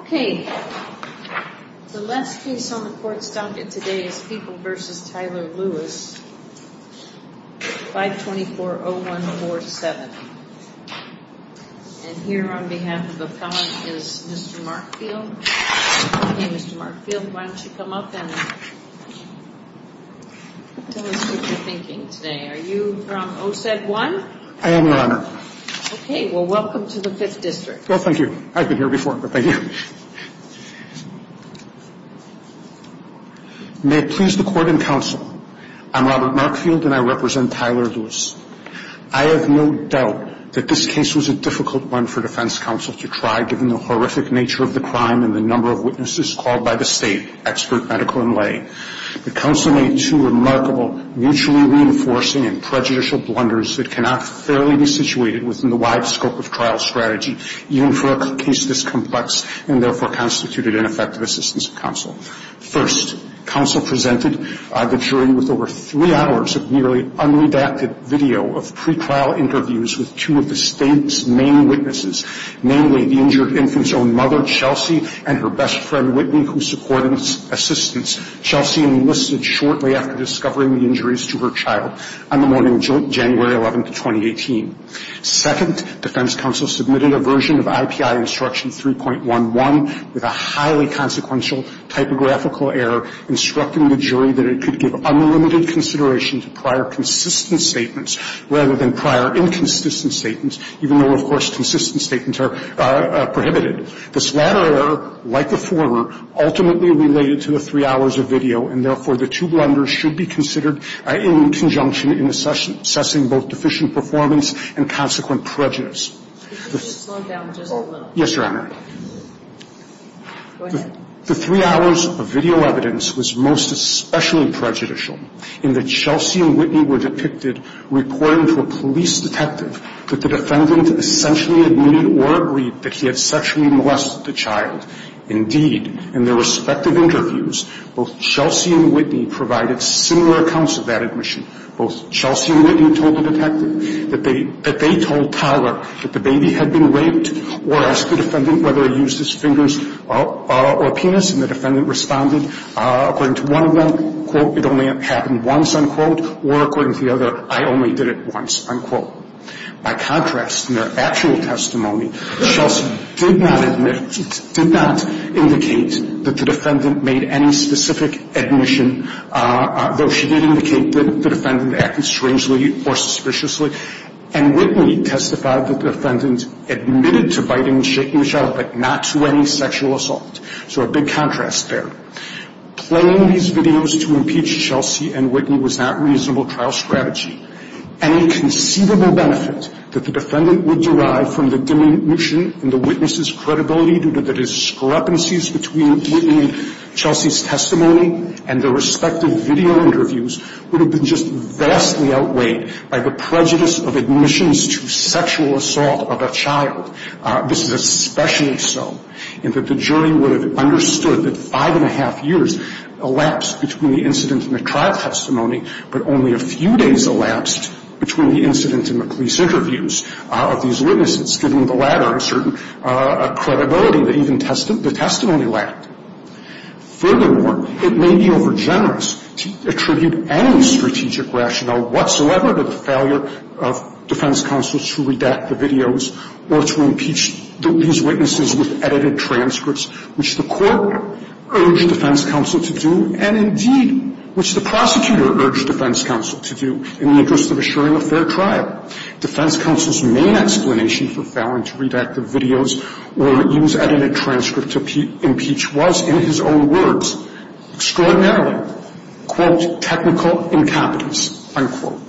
524-0147. And here on behalf of the felon is Mr. Mark Field. Okay, Mr. Mark Field, why don't you come up and tell us what you're thinking today. Are you from OSED 1? I am, Your Honor. Okay, well, welcome to the 5th District. Well, thank you. I've been here before, but thank you. May it please the Court and counsel, I'm Robert Mark Field and I represent Tyler Lewis. I have no doubt that this case was a difficult one for defense counsel to try, given the horrific nature of the crime and the number of witnesses called by the state, expert medical and lay. The counsel made two remarkable, mutually reinforcing and prejudicial blunders that cannot fairly be situated within the wide scope of trial strategy, even for a case this complex and therefore constituted ineffective assistance of counsel. First, counsel presented the jury with over three hours of nearly unredacted video of pre-trial interviews with two of the state's main witnesses, namely the injured infant's own mother, Chelsea, and her best friend, Whitney, who supported assistance. Chelsea enlisted shortly after discovering the injuries to her child on the morning of January 11, 2018. Second, defense counsel submitted a version of IPI Instruction 3.11 with a highly consequential typographical error instructing the jury that it could give unlimited consideration to prior consistent statements rather than prior inconsistent statements, even though, of course, consistent statements are prohibited. This latter error, like the former, ultimately related to the three hours of video, and therefore, the two blunders should be considered in conjunction in assessing both deficient performance and consequent prejudice. Yes, Your Honor. The three hours of video evidence was most especially prejudicial in that Chelsea and Whitney were depicted reporting to a police detective that the defendant essentially admitted or agreed that he had sexually molested the child. Indeed, in their respective interviews, both Chelsea and Whitney provided similar accounts of that admission. Both Chelsea and Whitney told the detective that they told Tyler that the baby had been raped or asked the defendant whether he used his fingers or penis, and the defendant responded according to one of them, quote, it only happened once, unquote, or according to the other, I only did it once, unquote. By contrast, in their actual testimony, Chelsea did not admit, did not indicate that the defendant made any specific admission, though she did indicate that the defendant acted strangely or suspiciously, and Whitney testified that the defendant admitted to biting and shaking the child, but not to any sexual assault. So a big contrast there. Playing these videos to impeach Chelsea and Whitney was not reasonable trial strategy. Any conceivable benefit that the defendant would derive from the diminution in the witness's credibility due to the discrepancies between Whitney and Chelsea's testimony and their respective video interviews would have been just vastly outweighed by the prejudice of admissions to sexual assault of a child. This is especially so in that the jury would have understood that five and a half years elapsed between the incident and the trial testimony, but only a few days elapsed between the incident and the police interviews of these witnesses, giving the latter a certain credibility that even the testimony lacked. Furthermore, it may be overgenerous to attribute any strategic rationale whatsoever to the failure of defense counsel to redact the videos or to impeach these witnesses with edited transcripts, which the court urged defense counsel to do and, indeed, which the prosecutor urged defense counsel to do in the interest of assuring a fair trial. Defense counsel's main explanation for failing to redact the videos or use edited transcripts to impeach was, in his own words, extraordinarily, quote, technical incompetence, unquote.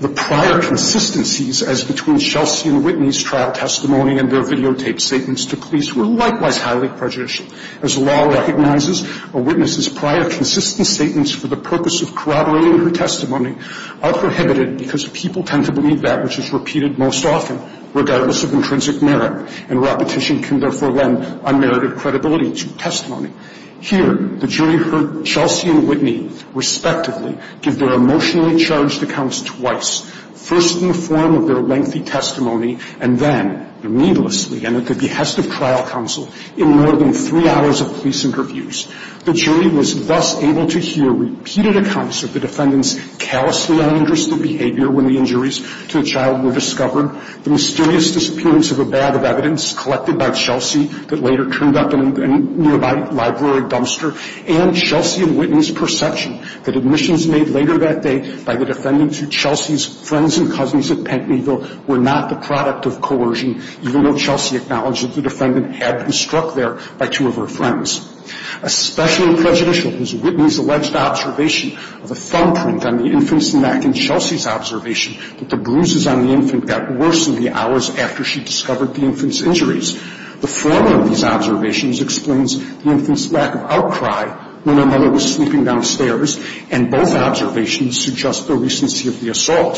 The prior consistencies as between Chelsea and Whitney's trial testimony and their videotaped statements to police were likewise highly prejudicial. As the law recognizes, a witness's prior consistent statements for the purpose of corroborating her testimony are prohibited because people tend to believe that which is repeated most often, regardless of intrinsic merit, and repetition can therefore lend unmerited credibility to testimony. Here, the jury heard Chelsea and Whitney, respectively, give their emotionally charged accounts twice, first in the form of their lengthy testimony and then, needlessly and at the behest of trial counsel, in more than three hours of police interviews. The jury was thus able to hear repeated accounts of the defendant's callously uninterested behavior when the injuries to the child were discovered, the mysterious disappearance of a bag of evidence collected by Chelsea that later turned up in a nearby library dumpster, and Chelsea and Whitney's perception that admissions made later that day by the defendant to Chelsea's friends and cousins at Pentonville were not the product of coercion, even though Chelsea acknowledged that the defendant had been struck there by two of her friends. Especially prejudicial was Whitney's alleged observation of a thumbprint on the infant's neck and Chelsea's observation that the bruises on the infant got worse in the hours after she discovered the infant's injuries. The formula of these observations explains the infant's lack of outcry when her mother was sleeping downstairs, and both observations suggest the recency of the assault,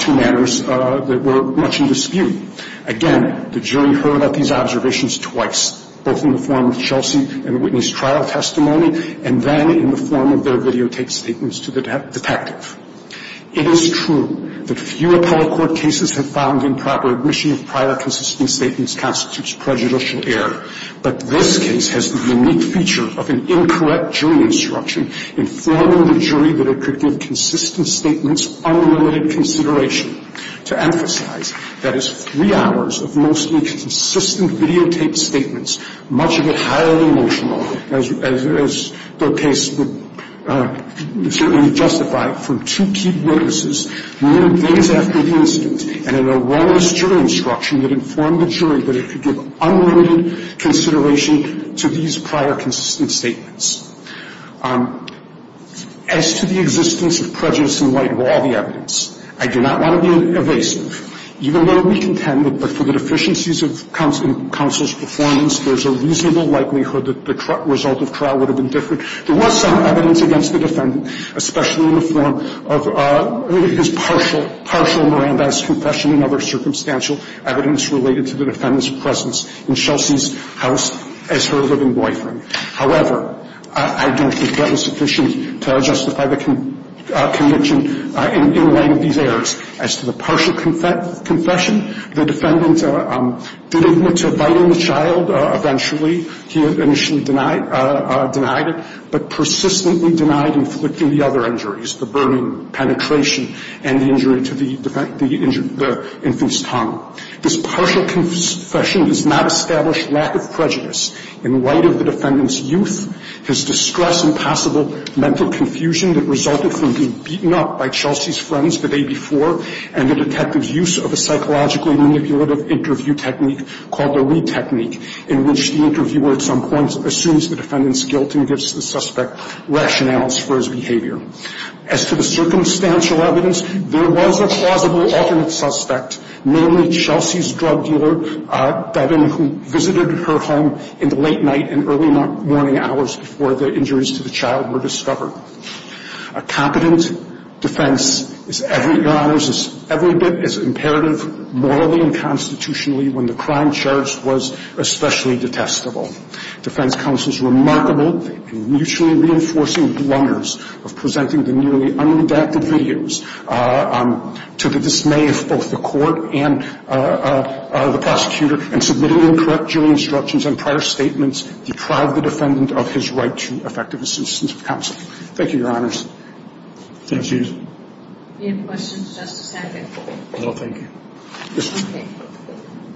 two matters that were much in dispute. Again, the jury heard of these observations twice, both in the form of Chelsea and Whitney's trial testimony and then in the form of their videotape statements to the detective. It is true that few appellate court cases have found improper admission of prior consistent statements constitutes prejudicial error, but this case has the unique feature of an incorrect jury instruction informing the jury that it could give consistent statements unrelated consideration. To emphasize, that is three hours of mostly consistent videotaped statements, much of it highly emotional, as the case would certainly justify from two key witnesses, more than days after the incident, and an erroneous jury instruction that informed the jury that it could give unlimited consideration to these prior consistent statements. As to the existence of prejudice in light of all the evidence, I do not want to be evasive. Even though we contend that for the deficiencies of counsel's performance, there's a reasonable likelihood that the result of trial would have been different. There was some evidence against the defendant, especially in the form of his partial Miranda's confession and other circumstantial evidence related to the defendant's presence in Chelsea's house as her living boyfriend. However, I don't think that was sufficient to justify the conviction in light of these errors. As to the partial confession, the defendant did admit to biting the child eventually. He initially denied it, but persistently denied inflicting the other injuries, the burning, penetration, and the injury to the infant's tongue. This partial confession does not establish lack of prejudice in light of the defendant's youth, his distress and possible mental confusion that resulted from being beaten up by Chelsea's friends the day before, and the detective's use of a psychologically manipulative interview technique called the Lee technique, in which the interviewer at some point assumes the defendant's guilt and gives the suspect rationales for his behavior. As to the circumstantial evidence, there was a plausible alternate suspect, namely Chelsea's drug dealer, Devin, who visited her home in the late night and early morning hours before the injuries to the child were discovered. A competent defense is every bit as imperative morally and constitutionally when the crime charged was especially detestable. The defense counsel's remarkable and mutually reinforcing blunders of presenting the nearly unredacted videos to the dismay of both the court and the prosecutor and submitting incorrect jury instructions and prior statements deprive the defendant of his right to effective assistance of counsel. Thank you, Your Honors. Thank you. Do you have questions, Justice Hackett? No, thank you. Yes, ma'am.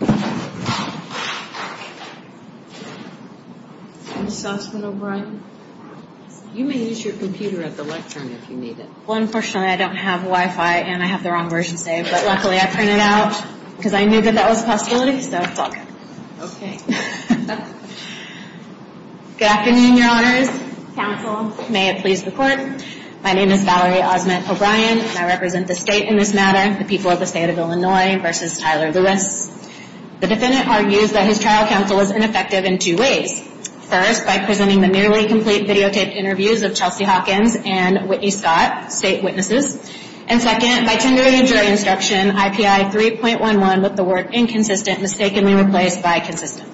Okay. Ms. Osment O'Brien, you may use your computer at the lectern if you need it. Well, unfortunately, I don't have Wi-Fi, and I have the wrong version saved, but luckily I printed it out because I knew that that was a possibility, so it's all good. Okay. Good afternoon, Your Honors, counsel, may it please the court. My name is Valerie Osment O'Brien, and I represent the state in this matter, the people of the state of Illinois versus Tyler Lewis. The defendant argues that his trial counsel was ineffective in two ways. First, by presenting the nearly complete videotaped interviews of Chelsea Hawkins and Whitney Scott, state witnesses, and second, by tendering a jury instruction, IPI 3.11, with the word inconsistent mistakenly replaced by consistent.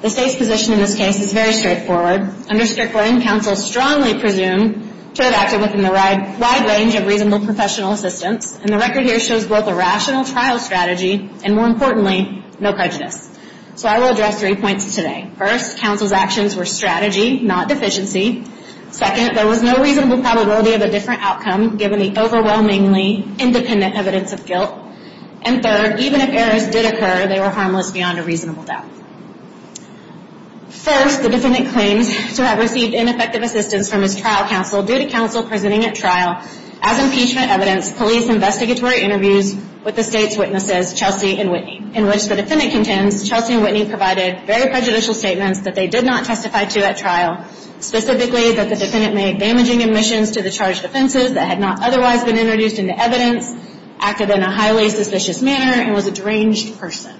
The state's position in this case is very straightforward. Under Strickland, counsel strongly presumed to have acted within the wide range of reasonable professional assistance, and the record here shows both a rational trial strategy and, more importantly, no prejudice. So I will address three points today. First, counsel's actions were strategy, not deficiency. Second, there was no reasonable probability of a different outcome, given the overwhelmingly independent evidence of guilt. And third, even if errors did occur, they were harmless beyond a reasonable doubt. First, the defendant claims to have received ineffective assistance from his trial counsel due to counsel presenting at trial, as impeachment evidence, police investigatory interviews with the state's witnesses, Chelsea and Whitney, in which the defendant contends Chelsea and Whitney provided very prejudicial statements that they did not testify to at trial, specifically that the defendant made damaging admissions to the charged offenses that had not otherwise been introduced into evidence, acted in a highly suspicious manner, and was a deranged person.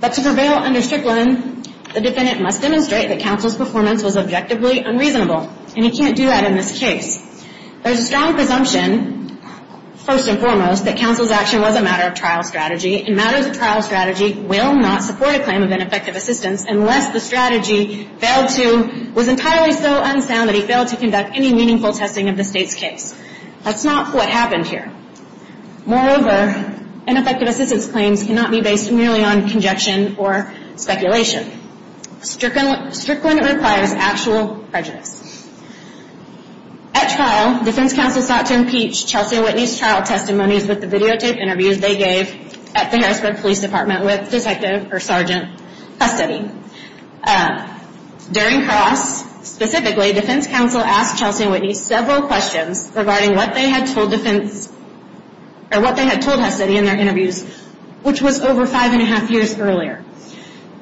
But to prevail under Strickland, the defendant must demonstrate that counsel's performance was objectively unreasonable, and he can't do that in this case. There's a strong presumption, first and foremost, that counsel's action was a matter of trial strategy, and matters of trial strategy will not support a claim of ineffective assistance unless the strategy failed to, was entirely so unsound that he failed to conduct any meaningful testing of the state's case. That's not what happened here. Moreover, ineffective assistance claims cannot be based merely on conjection or speculation. Strickland requires actual prejudice. At trial, defense counsel sought to impeach Chelsea and Whitney's trial testimonies with the videotape interviews they gave at the Harrisburg Police Department with Detective or Sergeant Hustedy. During cross, specifically, defense counsel asked Chelsea and Whitney several questions regarding what they had told defense, or what they had told Hustedy in their interviews, which was over five and a half years earlier.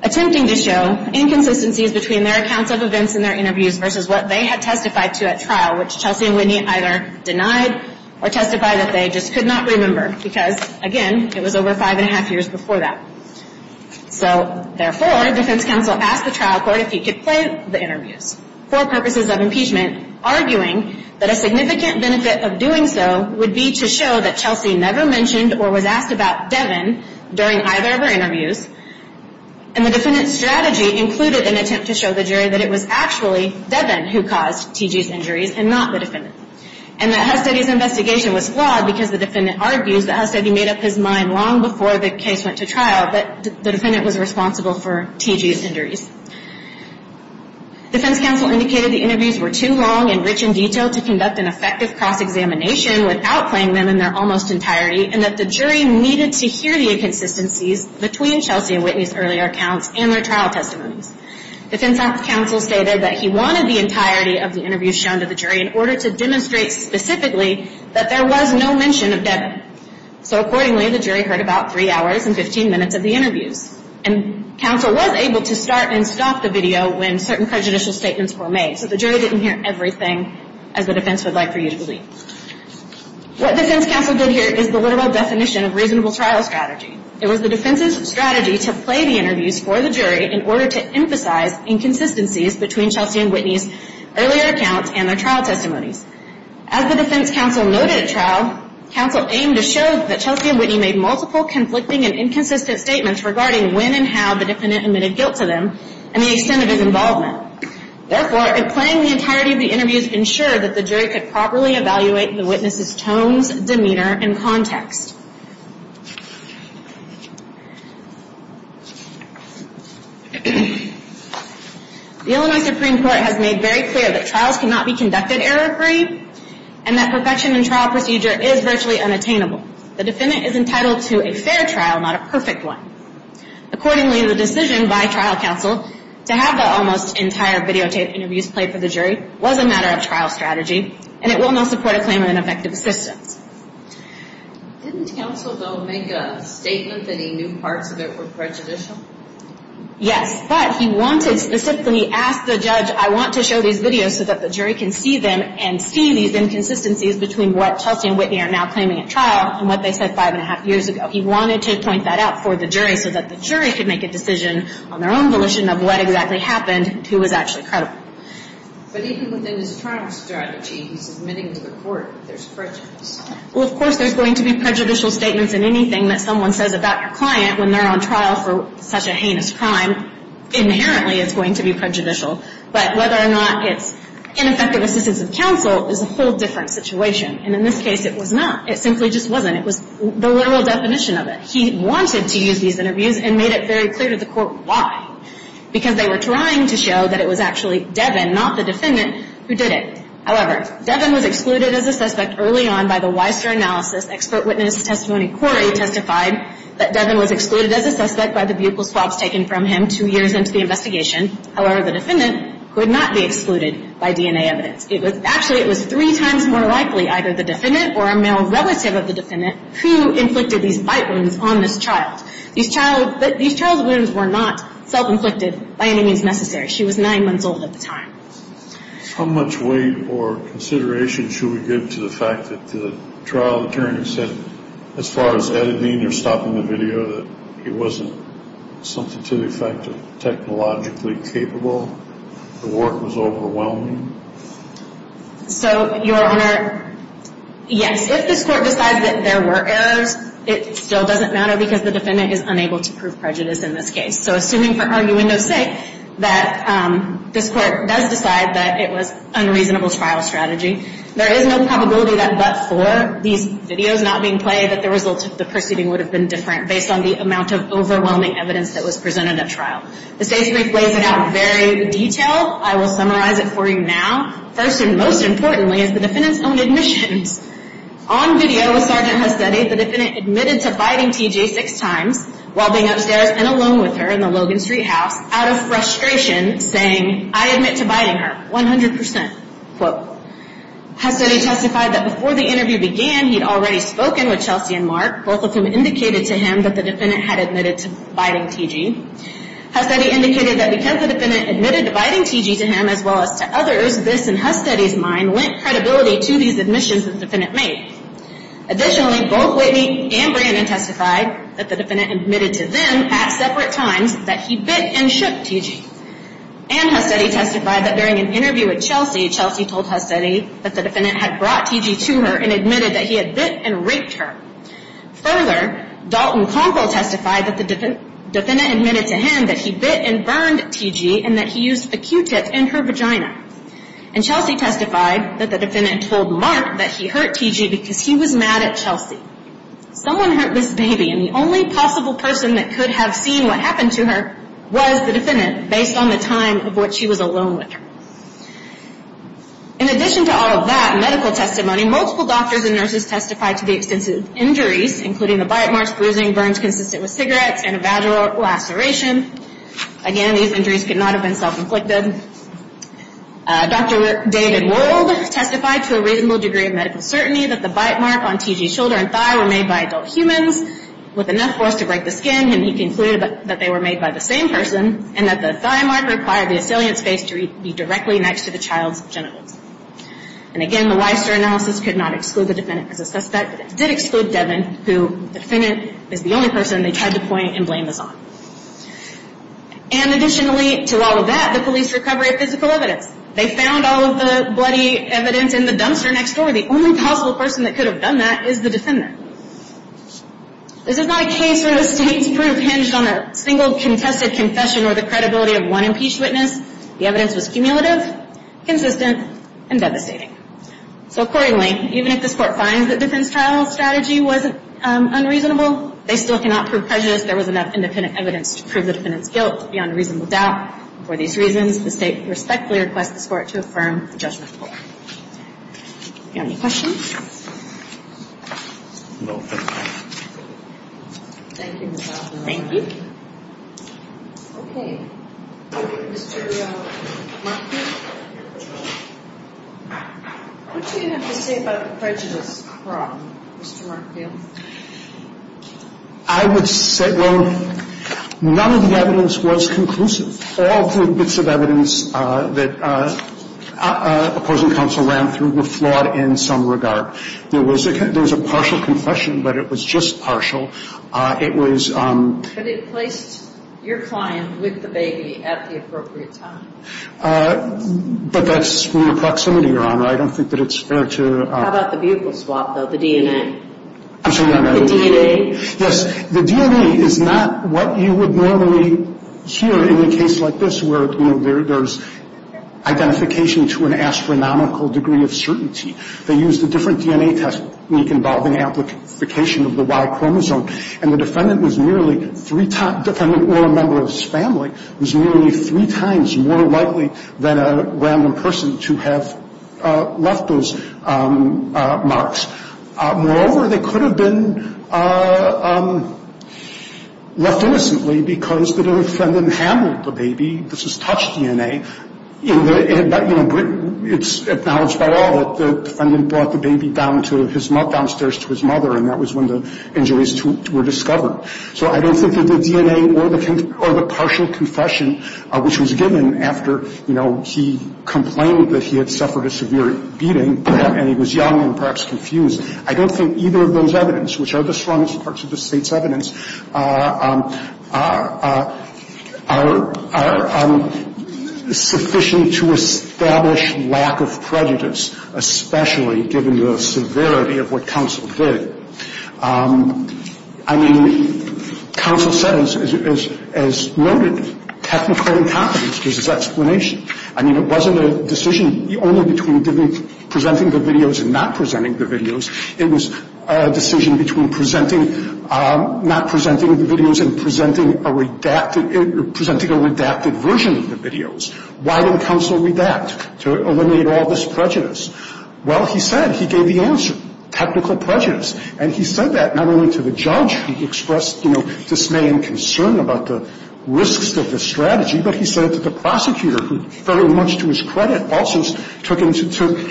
Attempting to show inconsistencies between their accounts of events in their interviews versus what they had testified to at trial, which Chelsea and Whitney either denied or testified that they just could not remember, because, again, it was over five and a half years before that. So, therefore, defense counsel asked the trial court if he could play the interviews for purposes of impeachment, arguing that a significant benefit of doing so would be to show that Chelsea never mentioned or was asked about Devin during either of her interviews, and the defendant's strategy included an attempt to show the jury that it was actually Devin who caused T.G.'s injuries and not the defendant, and that Hustedy's investigation was flawed because the defendant argues that Hustedy made up his mind long before the case went to trial, but the defendant was responsible for T.G.'s injuries. Defense counsel indicated the interviews were too long and rich in detail to conduct an effective cross-examination without playing them in their almost entirety and that the jury needed to hear the inconsistencies between Chelsea and Whitney's earlier accounts and their trial testimonies. Defense counsel stated that he wanted the entirety of the interviews shown to the jury in order to demonstrate specifically that there was no mention of Devin. So, accordingly, the jury heard about three hours and 15 minutes of the interviews, and counsel was able to start and stop the video when certain prejudicial statements were made, so the jury didn't hear everything, as the defense would like for you to believe. What defense counsel did here is the literal definition of reasonable trial strategy. It was the defense's strategy to play the interviews for the jury in order to emphasize inconsistencies between Chelsea and Whitney's earlier accounts and their trial testimonies. As the defense counsel noted at trial, counsel aimed to show that Chelsea and Whitney made multiple conflicting and inconsistent statements regarding when and how the defendant admitted guilt to them and the extent of his involvement. Therefore, if playing the entirety of the interviews ensured that the jury could properly evaluate the witness's tones, demeanor, and context. The Illinois Supreme Court has made very clear that trials cannot be conducted error-free and that perfection in trial procedure is virtually unattainable. The defendant is entitled to a fair trial, not a perfect one. Accordingly, the decision by trial counsel to have the almost entire videotaped interviews played for the jury was a matter of trial strategy, and it will not support a claim of ineffective assistance. Didn't counsel, though, make a statement that he knew parts of it were prejudicial? Yes, but he wanted to specifically ask the judge, I want to show these videos so that the jury can see them and see these inconsistencies between what Chelsea and Whitney are now claiming at trial and what they said five and a half years ago. He wanted to point that out for the jury so that the jury could make a decision on their own volition of what exactly happened and who was actually credible. But even within his trial strategy, he's admitting to the court that there's prejudice. Well, of course there's going to be prejudicial statements in anything that someone says about your client when they're on trial for such a heinous crime. Inherently, it's going to be prejudicial. But whether or not it's ineffective assistance of counsel is a whole different situation. And in this case, it was not. It simply just wasn't. It was the literal definition of it. He wanted to use these interviews and made it very clear to the court why. Because they were trying to show that it was actually Devin, not the defendant, who did it. However, Devin was excluded as a suspect early on by the Weiser analysis. Expert witness testimony, Corey, testified that Devin was excluded as a suspect by the buccal swabs taken from him two years into the investigation. However, the defendant could not be excluded by DNA evidence. Actually, it was three times more likely either the defendant or a male relative of the defendant who inflicted these bite wounds on this child. These child wounds were not self-inflicted by any means necessary. She was nine months old at the time. How much weight or consideration should we give to the fact that the trial attorney said, as far as editing or stopping the video, that it wasn't something to the effect of technologically capable? The work was overwhelming? So, Your Honor, yes. If this court decides that there were errors, it still doesn't matter because the defendant is unable to prove prejudice in this case. So, assuming, for arguendo's sake, that this court does decide that it was unreasonable trial strategy, there is no probability that but for these videos not being played, that the results of the proceeding would have been different based on the amount of overwhelming evidence that was presented at trial. The state's brief lays it out in very good detail. I will summarize it for you now. First and most importantly is the defendant's own admissions. On video with Sgt. Hastetti, the defendant admitted to biting T.J. six times while being upstairs and alone with her in the Logan Street house, out of frustration, saying, I admit to biting her, 100%, quote. Hastetti testified that before the interview began, he'd already spoken with Chelsea and Mark, both of whom indicated to him that the defendant had admitted to biting T.J. Hastetti indicated that because the defendant admitted to biting T.J. to him as well as to others, this, in Hastetti's mind, lent credibility to these admissions that the defendant made. Additionally, both Whitney and Brandon testified that the defendant admitted to them at separate times that he bit and shook T.J. And Hastetti testified that during an interview with Chelsea, Chelsea told Hastetti that the defendant had brought T.J. to her and admitted that he had bit and raped her. Further, Dalton Conkle testified that the defendant admitted to him that he bit and burned T.J. and that he used a Q-tip in her vagina. And Chelsea testified that the defendant told Mark that he hurt T.J. because he was mad at Chelsea. Someone hurt this baby, and the only possible person that could have seen what happened to her was the defendant based on the time of when she was alone with her. In addition to all of that medical testimony, multiple doctors and nurses testified to the extensive injuries, including the bite marks, bruising, burns consistent with cigarettes, and a vaginal laceration. Again, these injuries could not have been self-inflicted. Dr. David Wold testified to a reasonable degree of medical certainty that the bite mark on T.J.'s shoulder and thigh were made by adult humans with enough force to break the skin, and he concluded that they were made by the same person and that the thigh mark required the assailant's face to be directly next to the child's genitals. And again, the Weister analysis could not exclude the defendant as a suspect, but it did exclude Devin, who the defendant is the only person they tried to point and blame this on. And additionally to all of that, the police recovery of physical evidence. They found all of the bloody evidence in the dumpster next door. The only possible person that could have done that is the defendant. This is not a case where the state's proof hinged on a single contested confession or the credibility of one impeached witness. The evidence was cumulative, consistent, and devastating. So accordingly, even if this Court finds that Devin's trial strategy was unreasonable, they still cannot prove prejudice. There was enough independent evidence to prove the defendant's guilt beyond reasonable doubt. For these reasons, the state respectfully requests this Court to affirm the judgment. Do you have any questions? No. Thank you, Ms. Hoffman. Thank you. Okay. Mr. Markfield? What do you have to say about the prejudice problem, Mr. Markfield? I would say, well, none of the evidence was conclusive. All the bits of evidence that opposing counsel ran through were flawed in some regard. There was a partial confession, but it was just partial. It was But it placed your client with the baby at the appropriate time. But that's near proximity, Your Honor. I don't think that it's fair to How about the buccal swap, though, the DNA? I'm sorry, Your Honor. The DNA? Yes. The DNA is not what you would normally hear in a case like this, where there's identification to an astronomical degree of certainty. They used a different DNA test leak involving application of the Y chromosome. And the defendant was nearly three times The defendant or a member of his family was nearly three times more likely than a random person to have left those marks. Moreover, they could have been left innocently because the defendant handled the baby. This is touched DNA. It's acknowledged by all that the defendant brought the baby downstairs to his mother, and that was when the injuries were discovered. So I don't think that the DNA or the partial confession, which was given after he complained that he had suffered a severe beating, and he was young and perhaps confused, I don't think either of those evidence, which are the strongest parts of the State's evidence, are sufficient to establish lack of prejudice, especially given the severity of what counsel did. I mean, counsel said, as noted, technical incompetence is his explanation. I mean, it wasn't a decision only between presenting the videos and not presenting the videos. It was a decision between presenting, not presenting the videos and presenting a redacted, presenting a redacted version of the videos. Why didn't counsel redact to eliminate all this prejudice? Well, he said he gave the answer, technical prejudice. And he said that not only to the judge who expressed, you know, dismay and concern about the risks of the strategy, but he said to the prosecutor, who very much to his credit also took into account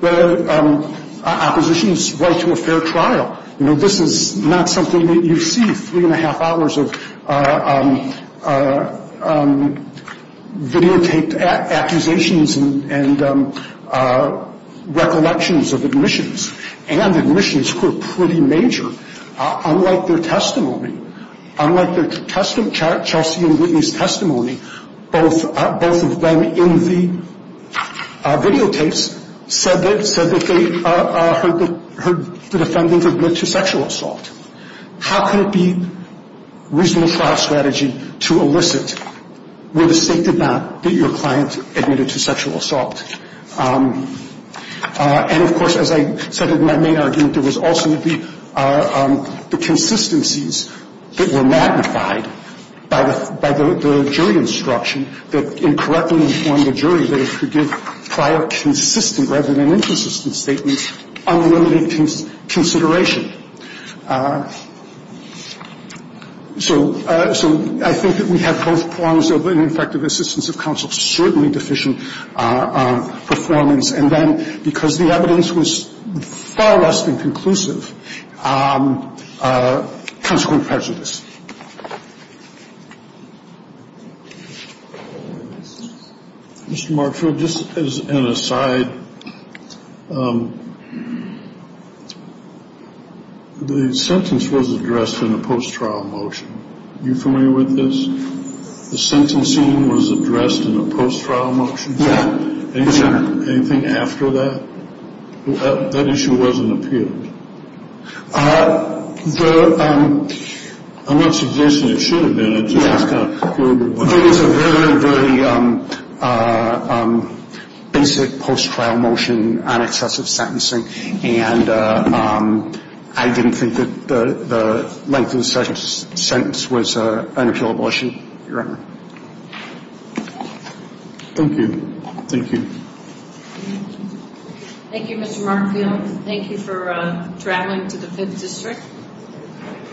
the opposition's right to a fair trial. You know, this is not something that you see three-and-a-half hours of videotaped accusations and recollections of admissions and admissions who are pretty major. Unlike their testimony, unlike their testimony, Chelsea and Whitney's testimony, both of them in the videotapes said that they heard the defendant admit to sexual assault. How could it be reasonable for our strategy to elicit where the State did not, that your client admitted to sexual assault? And, of course, as I said in my main argument, there was also the consistencies that were magnified by the jury instruction that incorrectly informed the jury that it should give prior consistent rather than inconsistent statements unlimited consideration. So I think that we have both prongs of an effective assistance of counsel. I think in coming to recommend the action and to recall a shortigard that had the potential to highlight some of the voices from the prosecution were undefinable otherwise, and certainly deficient performance and then because the evidence was far less than inclusive consequences. Mr. Markfield, just as an aside, the sentence was addressed in a post-trial motion. Are you familiar with this? The sentencing was addressed in a post-trial motion. Yes, sir. Anything after that? That issue wasn't appealed. I'm not suggesting it should have been. It's a very, very basic post-trial motion on excessive sentencing, and I didn't think that the length of the sentence was an appealable issue, Your Honor. Thank you. Thank you. Thank you, Mr. Markfield. Thank you for traveling to the Fifth District.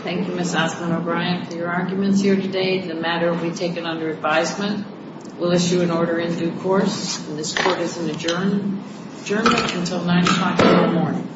Thank you, Ms. Osmond O'Brien, for your arguments here today. The matter will be taken under advisement. We'll issue an order in due course, and this Court is adjourned until 9 o'clock in the morning.